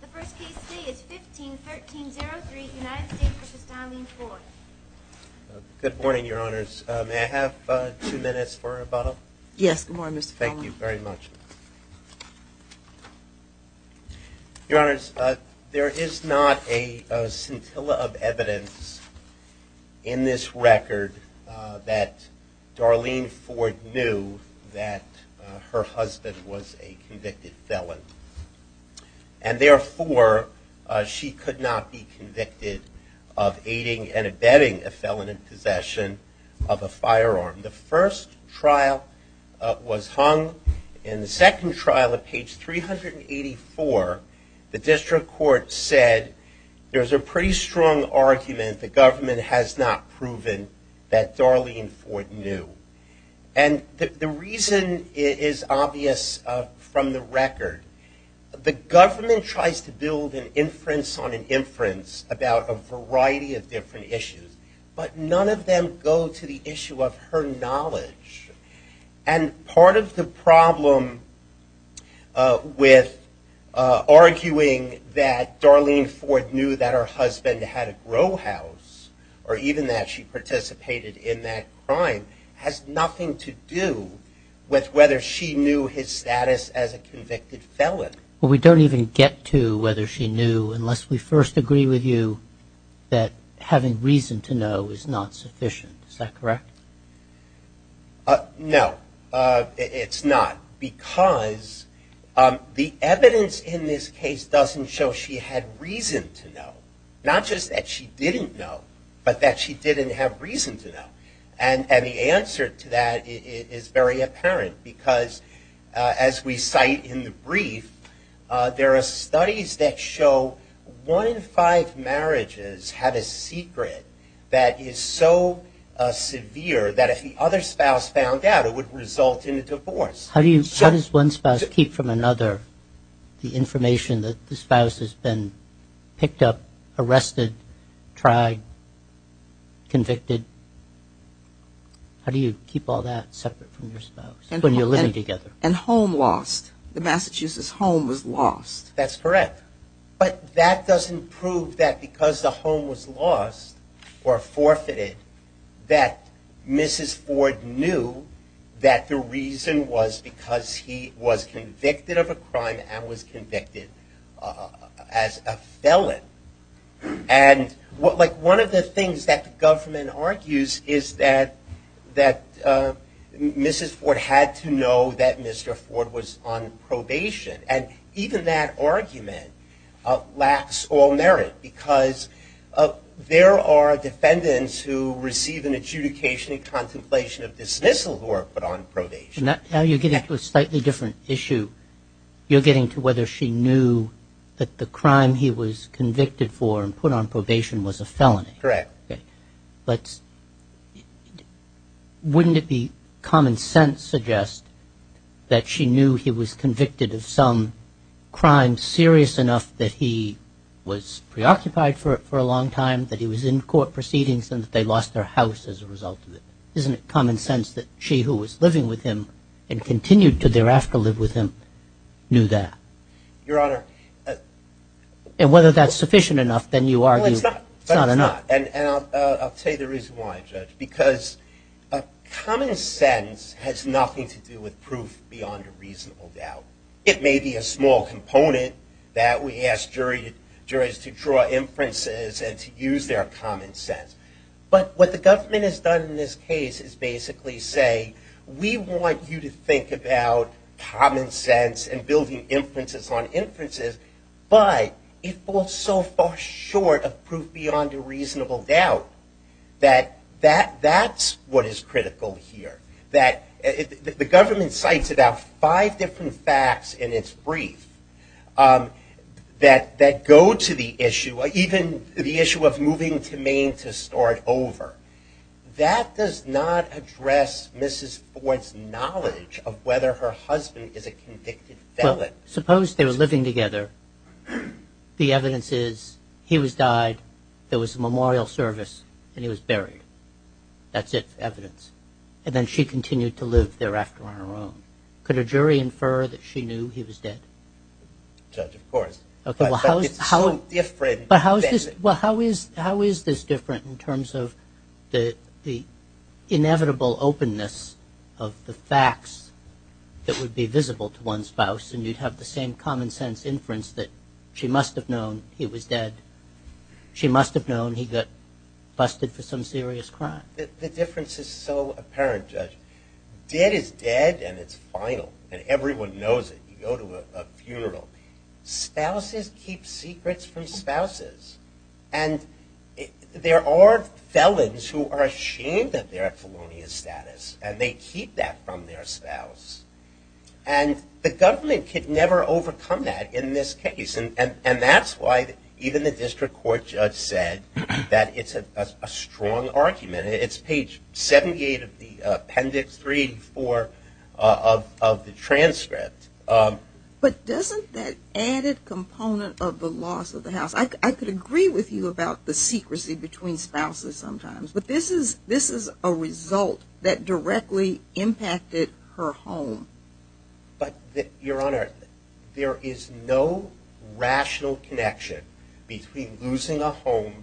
The first case today is 15-1303, United States v. Darlene Ford. Good morning, Your Honors. May I have two minutes for a bottle? Yes, good morning, Mr. Foley. Thank you very much. Your Honors, there is not a scintilla of evidence in this record that Darlene Ford knew that her husband was a convicted felon. And therefore, she could not be convicted of aiding and abetting a felon in possession of a firearm. The first trial was hung. In the second trial, at page 384, the district court said, there's a pretty strong argument the government has not proven that Darlene Ford knew. And the reason is obvious from the record. The government tries to build an inference on an inference about a variety of different issues. But none of them go to the issue of her knowledge. And part of the problem with arguing that Darlene Ford knew that her husband had a grow house, or even that she participated in that crime, has nothing to do with whether she knew his status as a convicted felon. We don't even get to whether she knew, unless we first agree with you, that having reason to know is not sufficient. Is that correct? No, it's not. Because the evidence in this case doesn't show she had reason to know. Not just that she didn't know, but that she didn't have reason to know. And the answer to that is very apparent. Because as we cite in the brief, there are studies that show one in five marriages have a secret that is so severe that if the other spouse found out, it would result in a divorce. How does one spouse keep from another the information that the spouse has been picked up, arrested, tried, convicted? How do you keep all that separate from your spouse when you're living together? And home lost. The Massachusetts home was lost. That's correct. But that doesn't prove that because the home was lost or forfeited, that Mrs. Ford knew that the reason was because he was convicted of a crime and was convicted as a felon. One of the things that the government argues is that Mrs. Ford had to know that Mr. Ford was on probation. And even that argument lacks all merit. Because there are defendants who receive an adjudication and contemplation of dismissal who are put on probation. Now you're getting to a slightly different issue. You're getting to whether she knew that the crime he was convicted for and put on probation was a felony. Correct. But wouldn't it be common sense to suggest that she knew he was convicted of some crime and was serious enough that he was preoccupied for a long time, that he was in court proceedings and that they lost their house as a result of it? Isn't it common sense that she who was living with him and continued to thereafter live with him knew that? Your Honor. And whether that's sufficient enough, then you argue it's not enough. No, it's not. And I'll tell you the reason why, Judge. Because common sense has nothing to do with proof beyond a reasonable doubt. It may be a small component that we ask juries to draw inferences and to use their common sense. But what the government has done in this case is basically say, we want you to think about common sense and building inferences on inferences, but it falls so far short of proof beyond a reasonable doubt that that's what is critical here. The government cites about five different facts in its brief that go to the issue, even the issue of moving to Maine to start over. That does not address Mrs. Ford's knowledge of whether her husband is a convicted felon. Suppose they were living together. The evidence is he was died, there was a memorial service, and he was buried. That's it, evidence. And then she continued to live there after on her own. Could a jury infer that she knew he was dead? Judge, of course. But it's so different. Well, how is this different in terms of the inevitable openness of the facts that would be visible to one's spouse, and you'd have the same common sense inference that she must have known he was dead, she must have known he got busted for some serious crime. The difference is so apparent, Judge. Dead is dead, and it's final, and everyone knows it. You go to a funeral. Spouses keep secrets from spouses. And there are felons who are ashamed of their felonious status, and they keep that from their spouse. And the government could never overcome that in this case, and that's why even the district court judge said that it's a strong argument. It's page 78 of the appendix 384 of the transcript. But doesn't that add a component of the loss of the house? I could agree with you about the secrecy between spouses sometimes, but this is a result that directly impacted her home. But, Your Honor, there is no rational connection between losing a home,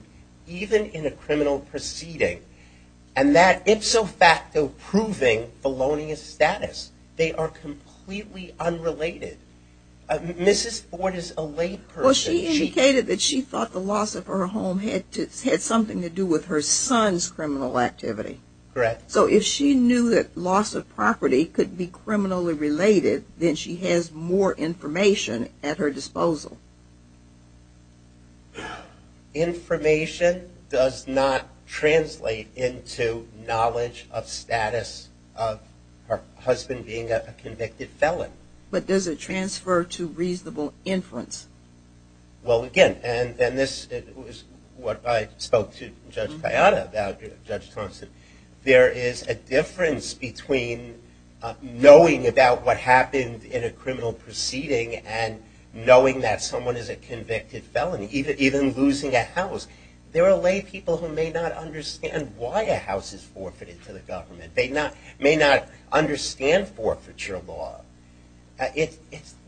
even in a criminal proceeding, and that ipso facto proving felonious status. They are completely unrelated. Mrs. Ford is a lay person. Well, she indicated that she thought the loss of her home had something to do with her son's criminal activity. Correct. So if she knew that loss of property could be criminally related, then she has more information at her disposal. Information does not translate into knowledge of status of her husband being a convicted felon. But does it transfer to reasonable inference? Well, again, and this is what I spoke to Judge Kayada about, Judge Thompson. There is a difference between knowing about what happened in a criminal proceeding and knowing that someone is a convicted felon, even losing a house. There are lay people who may not understand why a house is forfeited to the government. They may not understand forfeiture law.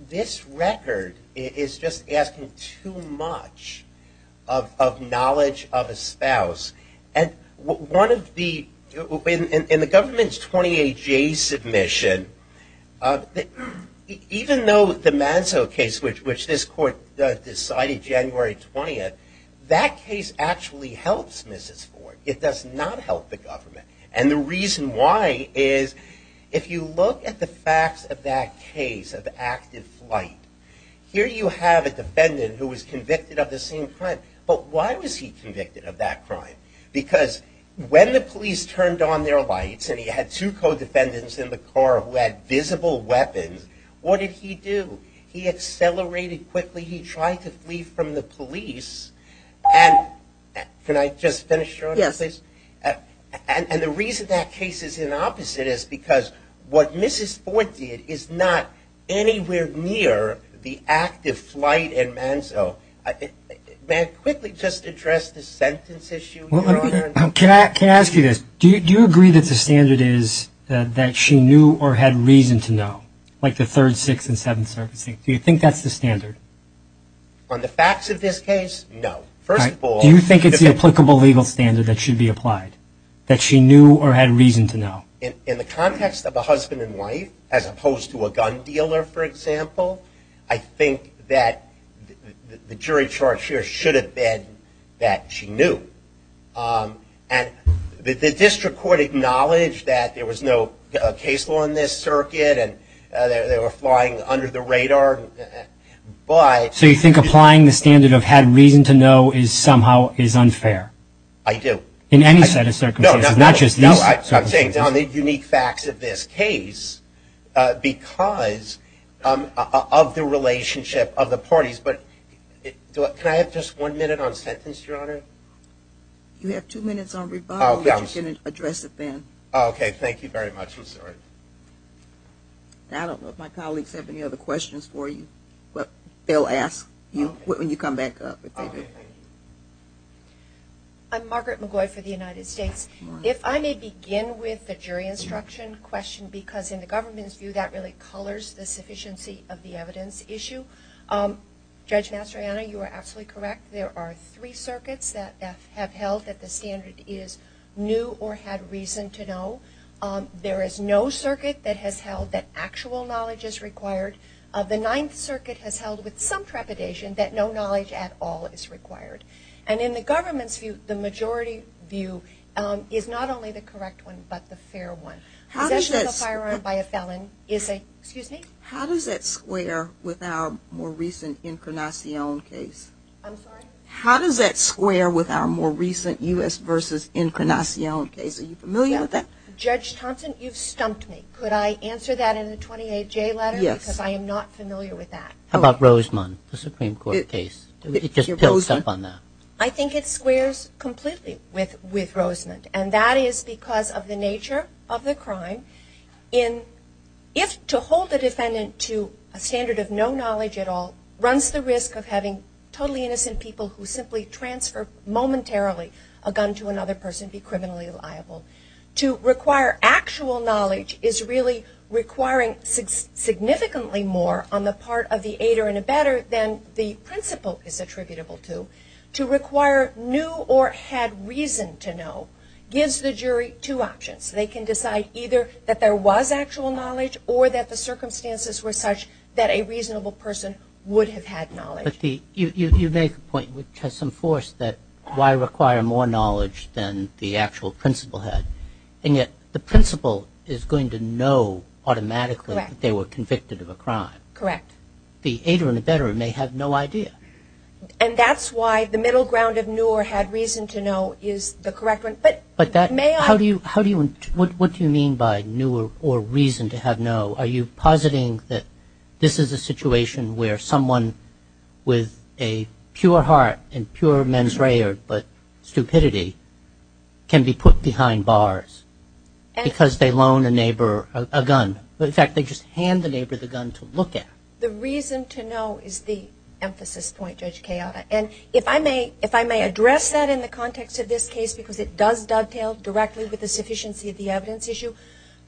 This record is just asking too much of knowledge of a spouse. In the government's 28-J submission, even though the Manzo case, which this court decided January 20th, that case actually helps Mrs. Ford. It does not help the government. And the reason why is if you look at the facts of that case of active flight, here you have a defendant who was convicted of the same crime. But why was he convicted of that crime? Because when the police turned on their lights and he had two co-defendants in the car who had visible weapons, what did he do? He accelerated quickly. He tried to flee from the police. And can I just finish, please? Yes. And the reason that case is the opposite is because what Mrs. Ford did is not anywhere near the active flight in Manzo. May I quickly just address the sentence issue, Your Honor? Can I ask you this? Do you agree that the standard is that she knew or had reason to know, like the Third, Sixth, and Seventh Circuit? Do you think that's the standard? On the facts of this case, no. First of all, Do you think it's the applicable legal standard that should be applied, that she knew or had reason to know? In the context of a husband and wife, as opposed to a gun dealer, for example, I think that the jury charge here should have been that she knew. And the district court acknowledged that there was no case law in this circuit and they were flying under the radar. So you think applying the standard of had reason to know is somehow unfair? In any set of circumstances? No. I'm taking down the unique facts of this case because of the relationship of the parties. But can I have just one minute on sentence, Your Honor? You have two minutes on rebuttal, but you can address it then. Okay, thank you very much. I'm sorry. I don't know if my colleagues have any other questions for you, but they'll ask you when you come back up. Okay, thank you. I'm Margaret McGoy for the United States. If I may begin with the jury instruction question, because in the government's view that really colors the sufficiency of the evidence issue. Judge Mastroianni, you are absolutely correct. There are three circuits that have held that the standard is knew or had reason to know. There is no circuit that has held that actual knowledge is required. The Ninth Circuit has held with some trepidation that no knowledge at all is required. And in the government's view, the majority view is not only the correct one, but the fair one. Possession of a firearm by a felon is a – excuse me? How does that square with our more recent Incarnacion case? I'm sorry? How does that square with our more recent U.S. versus Incarnacion case? Are you familiar with that? Judge Thompson, you've stumped me. Could I answer that in a 28-J letter? Yes. Because I am not familiar with that. How about Rosemond, the Supreme Court case? I think it squares completely with Rosemond. And that is because of the nature of the crime. If to hold a defendant to a standard of no knowledge at all runs the risk of having totally innocent people who simply transfer momentarily a gun to another person be criminally liable. To require actual knowledge is really requiring significantly more on the part of the aider and abetter than the principal is attributable to. To require new or had reason to know gives the jury two options. They can decide either that there was actual knowledge or that the circumstances were such that a reasonable person would have had knowledge. But you make a point which has some force that why require more knowledge than the actual principal had. And yet the principal is going to know automatically that they were convicted of a crime. Correct. And yet the aider and abetter may have no idea. And that's why the middle ground of new or had reason to know is the correct one. But that may – How do you – what do you mean by new or reason to have no? Are you positing that this is a situation where someone with a pure heart and pure mens rea but stupidity can be put behind bars because they loan a neighbor a gun? In fact, they just hand the neighbor the gun to look at. The reason to know is the emphasis point, Judge Cayota. And if I may address that in the context of this case because it does dovetail directly with the sufficiency of the evidence issue.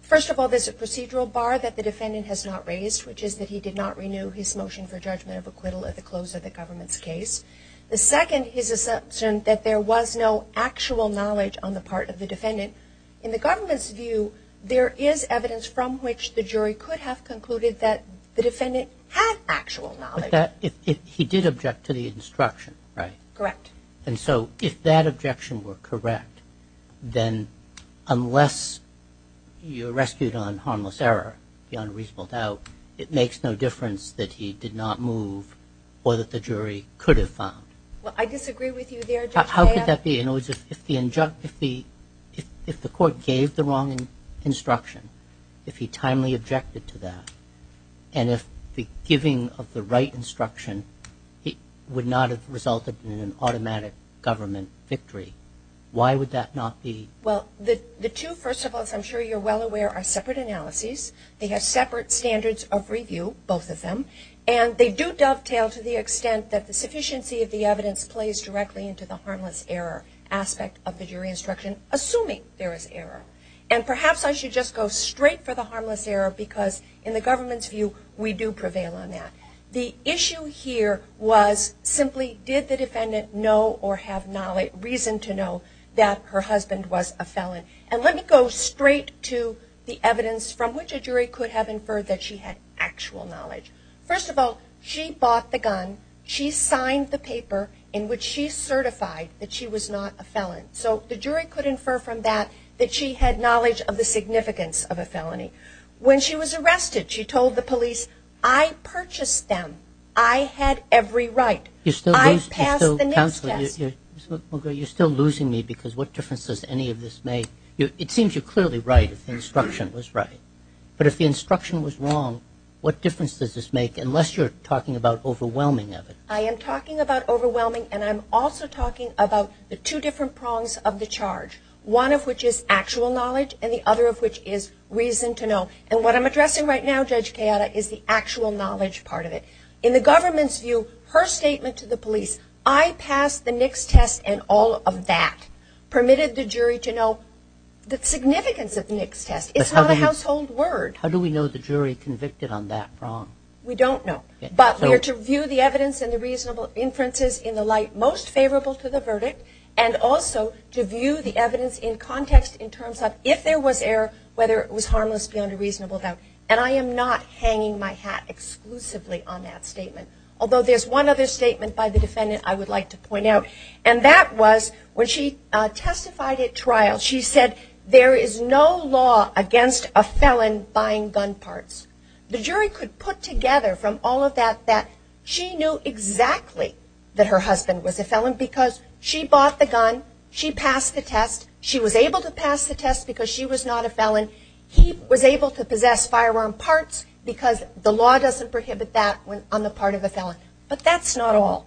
First of all, there's a procedural bar that the defendant has not raised, which is that he did not renew his motion for judgment of acquittal at the close of the government's case. The second is his assumption that there was no actual knowledge on the part of the defendant. In the government's view, there is evidence from which the jury could have concluded that the defendant had actual knowledge. But that – he did object to the instruction, right? Correct. And so if that objection were correct, then unless you're rescued on harmless error, beyond reasonable doubt, it makes no difference that he did not move or that the jury could have found. Well, I disagree with you there, Judge Cayota. How could that be? If the court gave the wrong instruction, if he timely objected to that, and if the giving of the right instruction would not have resulted in an automatic government victory, why would that not be? Well, the two, first of all, as I'm sure you're well aware, are separate analyses. They have separate standards of review, both of them. And they do dovetail to the extent that the sufficiency of the evidence plays directly into the harmless error aspect of the jury instruction, assuming there is error. And perhaps I should just go straight for the harmless error because in the government's view, we do prevail on that. The issue here was simply did the defendant know or have reason to know that her husband was a felon. And let me go straight to the evidence from which a jury could have inferred that she had actual knowledge. First of all, she bought the gun. She signed the paper in which she certified that she was not a felon. So the jury could infer from that that she had knowledge of the significance of a felony. When she was arrested, she told the police, I purchased them. I had every right. I passed the next test. Counselor, you're still losing me because what difference does any of this make? It seems you're clearly right if the instruction was right. But if the instruction was wrong, what difference does this make, unless you're talking about overwhelming evidence? I am talking about overwhelming, and I'm also talking about the two different prongs of the charge, one of which is actual knowledge and the other of which is reason to know. And what I'm addressing right now, Judge Chiara, is the actual knowledge part of it. In the government's view, her statement to the police, I passed the next test and all of that, permitted the jury to know the significance of the next test. It's not a household word. How do we know the jury convicted on that prong? We don't know. But we are to view the evidence and the reasonable inferences in the light most favorable to the verdict and also to view the evidence in context in terms of if there was error, whether it was harmless beyond a reasonable doubt. And I am not hanging my hat exclusively on that statement, although there's one other statement by the defendant I would like to point out, and that was when she testified at trial, she said there is no law against a felon buying gun parts. The jury could put together from all of that that she knew exactly that her husband was a felon because she bought the gun, she passed the test, she was able to pass the test because she was not a felon, he was able to possess firearm parts because the law doesn't prohibit that on the part of the felon. But that's not all.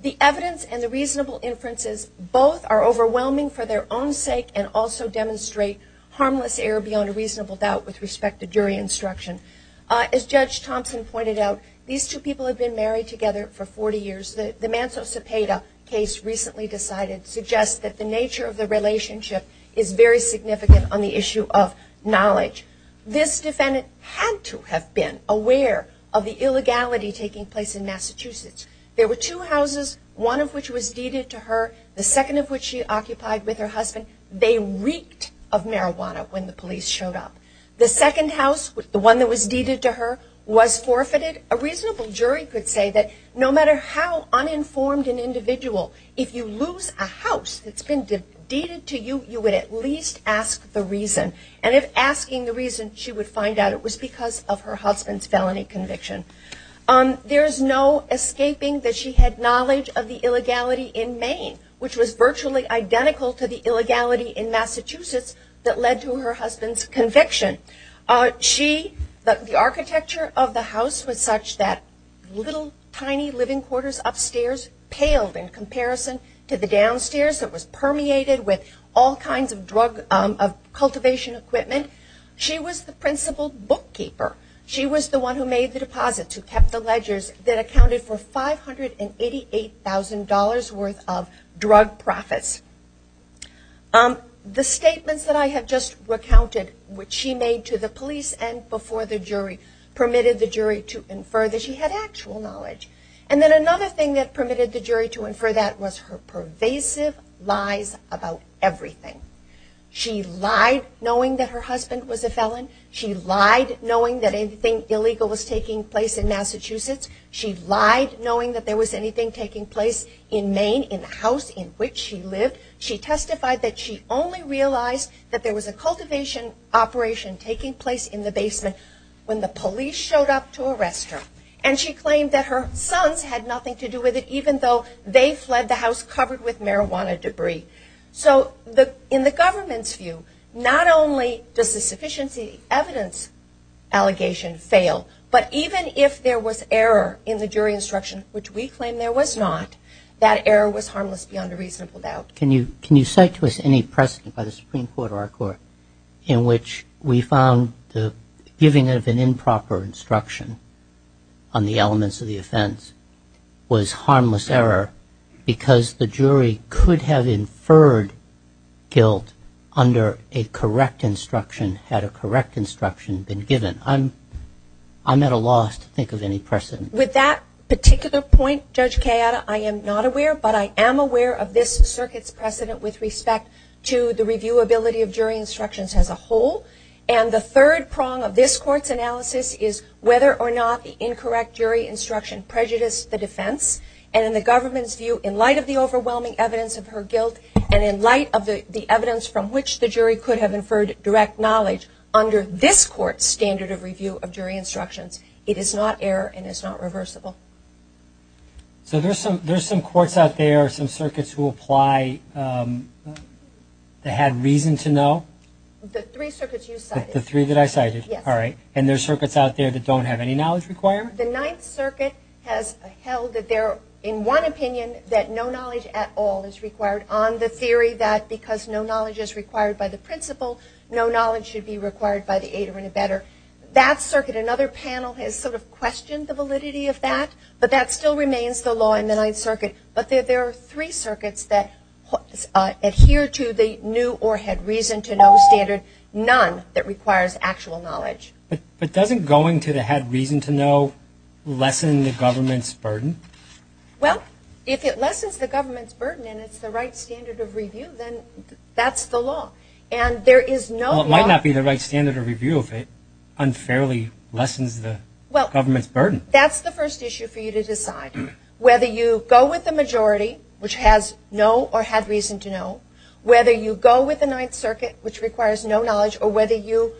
The evidence and the reasonable inferences both are overwhelming for their own sake and also demonstrate harmless error beyond a reasonable doubt with respect to jury instruction. As Judge Thompson pointed out, these two people have been married together for 40 years. The Manso-Cepeda case recently decided suggests that the nature of the relationship is very significant on the issue of knowledge. This defendant had to have been aware of the illegality taking place in Massachusetts. There were two houses, one of which was deeded to her, the second of which she occupied with her husband. They reeked of marijuana when the police showed up. The second house, the one that was deeded to her, was forfeited. A reasonable jury could say that no matter how uninformed an individual, if you lose a house that's been deeded to you, you would at least ask the reason. And if asking the reason, she would find out it was because of her husband's felony conviction. There's no escaping that she had knowledge of the illegality in Maine, which was virtually identical to the illegality in Massachusetts that led to her husband's conviction. The architecture of the house was such that little tiny living quarters upstairs paled in comparison to the downstairs that was permeated with all kinds of cultivation equipment. She was the principal bookkeeper. She was the one who made the deposits, who kept the ledgers, that accounted for $588,000 worth of drug profits. The statements that I have just recounted, which she made to the police and before the jury, permitted the jury to infer that she had actual knowledge. And then another thing that permitted the jury to infer that was her pervasive lies about everything. She lied knowing that her husband was a felon. She lied knowing that anything illegal was taking place in Massachusetts. She lied knowing that there was anything taking place in Maine, in the house in which she lived. She testified that she only realized that there was a cultivation operation taking place in the basement when the police showed up to arrest her. And she claimed that her sons had nothing to do with it, even though they fled the house covered with marijuana debris. So in the government's view, not only does the sufficiency evidence allegation fail, but even if there was error in the jury instruction, which we claim there was not, that error was harmless beyond a reasonable doubt. Can you cite to us any precedent by the Supreme Court or our Court in which we found the giving of an improper instruction on the elements of the offense was harmless error because the jury could have inferred guilt under a correct instruction had a correct instruction been given? I'm at a loss to think of any precedent. With that particular point, Judge Cayetta, I am not aware, but I am aware of this circuit's precedent with respect to the reviewability of jury instructions as a whole. And the third prong of this Court's analysis is whether or not the incorrect jury instruction prejudiced the defense. And in the government's view, in light of the overwhelming evidence of her guilt, and in light of the evidence from which the jury could have inferred direct knowledge, under this Court's standard of review of jury instructions, it is not error and it is not reversible. So there are some courts out there, some circuits who apply, that had reason to know? The three circuits you cited. The three that I cited? Yes. All right. And there are circuits out there that don't have any knowledge requirement? The Ninth Circuit has held that they're, in one opinion, that no knowledge at all is required, on the theory that because no knowledge is required by the principle, no knowledge should be required by the aid of any better. That circuit, another panel has sort of questioned the validity of that, but that still remains the law in the Ninth Circuit. But there are three circuits that adhere to the new or had reason to know standard. None that requires actual knowledge. But doesn't going to the had reason to know lessen the government's burden? Well, if it lessens the government's burden and it's the right standard of review, then that's the law. And there is no law. Well, it might not be the right standard of review if it unfairly lessens the government's burden. Well, that's the first issue for you to decide, whether you go with the majority, which has no or had reason to know, whether you go with the Ninth Circuit, which requires no knowledge, or whether you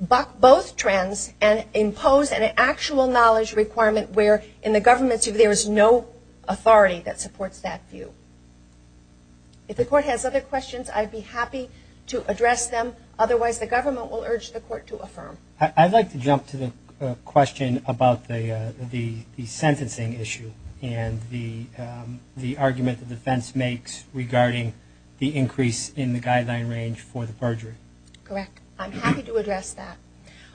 buck both trends and impose an actual knowledge requirement where, in the government's view, there is no authority that supports that view. If the court has other questions, I'd be happy to address them. Otherwise, the government will urge the court to affirm. I'd like to jump to the question about the sentencing issue and the argument the defense makes regarding the increase in the guideline range for the perjury. Correct. I'm happy to address that.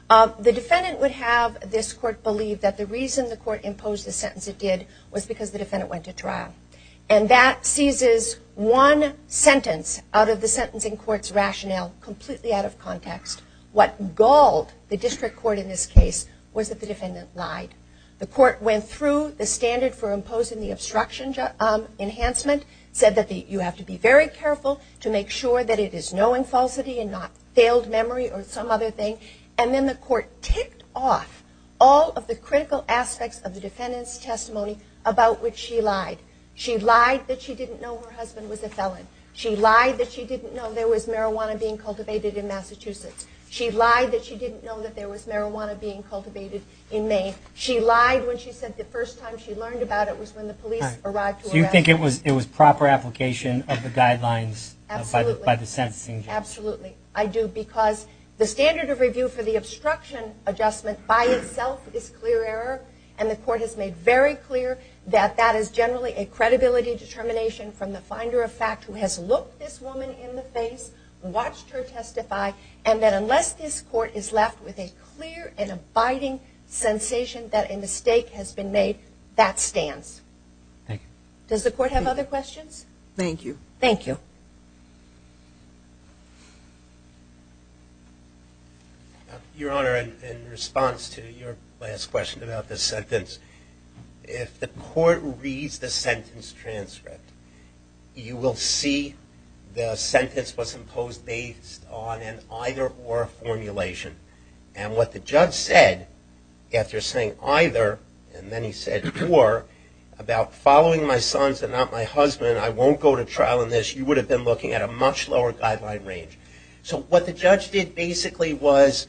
The defendant would have this court believe that the reason the court imposed the sentence it did was because the defendant went to trial. And that seizes one sentence out of the sentencing court's rationale, completely out of context. What galled the district court in this case was that the defendant lied. The court went through the standard for imposing the obstruction enhancement, said that you have to be very careful to make sure that it is knowing falsity and not failed memory or some other thing. And then the court ticked off all of the critical aspects of the defendant's testimony about which she lied. She lied that she didn't know her husband was a felon. She lied that she didn't know there was marijuana being cultivated in Massachusetts. She lied that she didn't know that there was marijuana being cultivated in Maine. She lied when she said the first time she learned about it was when the police arrived to arrest her. Do you think it was proper application of the guidelines by the sentencing judge? Absolutely. I do. Because the standard of review for the obstruction adjustment by itself is clear error, and the court has made very clear that that is generally a credibility determination from the finder of fact who has looked this woman in the face, watched her testify, and that unless this court is left with a clear and abiding sensation that a mistake has been made, that stands. Thank you. Does the court have other questions? Thank you. Thank you. Your Honor, in response to your last question about the sentence, if the court reads the sentence transcript, you will see the sentence was imposed based on an either or formulation. And what the judge said, after saying either, and then he said or, about following my sons and not my husband, I won't go to trial in this, you would have been looking at a much lower guideline range. So what the judge did basically was,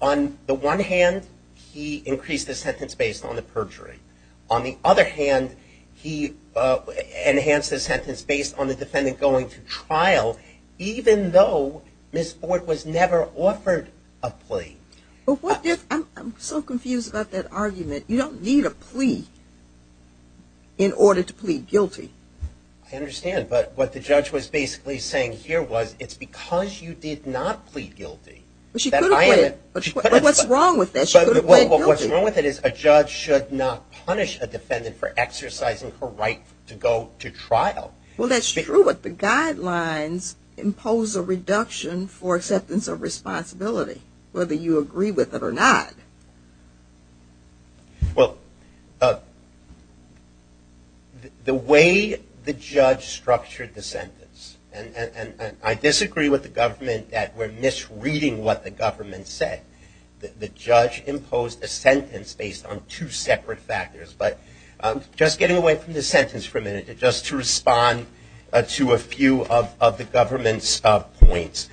on the one hand, he increased the sentence based on the perjury. On the other hand, he enhanced the sentence based on the defendant going to trial, even though this court was never offered a plea. I'm so confused about that argument. You don't need a plea in order to plead guilty. I understand. But what the judge was basically saying here was it's because you did not plead guilty that I am. But what's wrong with that? What's wrong with it is a judge should not punish a defendant for exercising her right to go to trial. Well, that's true, but the guidelines impose a reduction for acceptance of responsibility, whether you agree with it or not. Well, the way the judge structured the sentence, and I disagree with the government that we're misreading what the government said. The judge imposed a sentence based on two separate factors. But just getting away from this sentence for a minute, just to respond to a few of the government's points.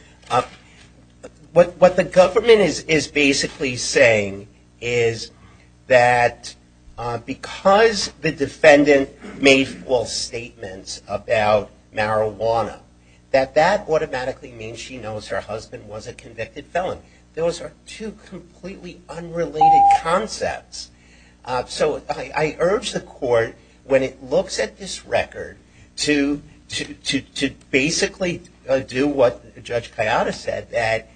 What the government is basically saying is that because the defendant made false statements about marijuana, that that automatically means she knows her husband was a convicted felon. Those are two completely unrelated concepts. So I urge the court, when it looks at this record, to basically do what Judge Kayada said, that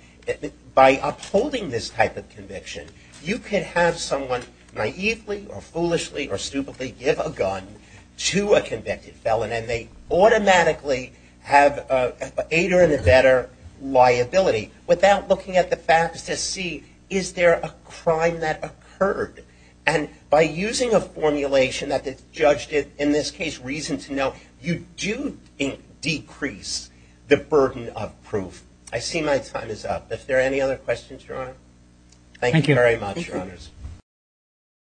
by upholding this type of conviction, you can have someone naively or foolishly or stupidly give a gun to a convicted felon, and they automatically have an eight or better liability, without looking at the facts to see, is there a crime that occurred? And by using a formulation that the judge did, in this case, reason to know, you do decrease the burden of proof. I see my time is up. Are there any other questions, Your Honor? Thank you very much, Your Honors.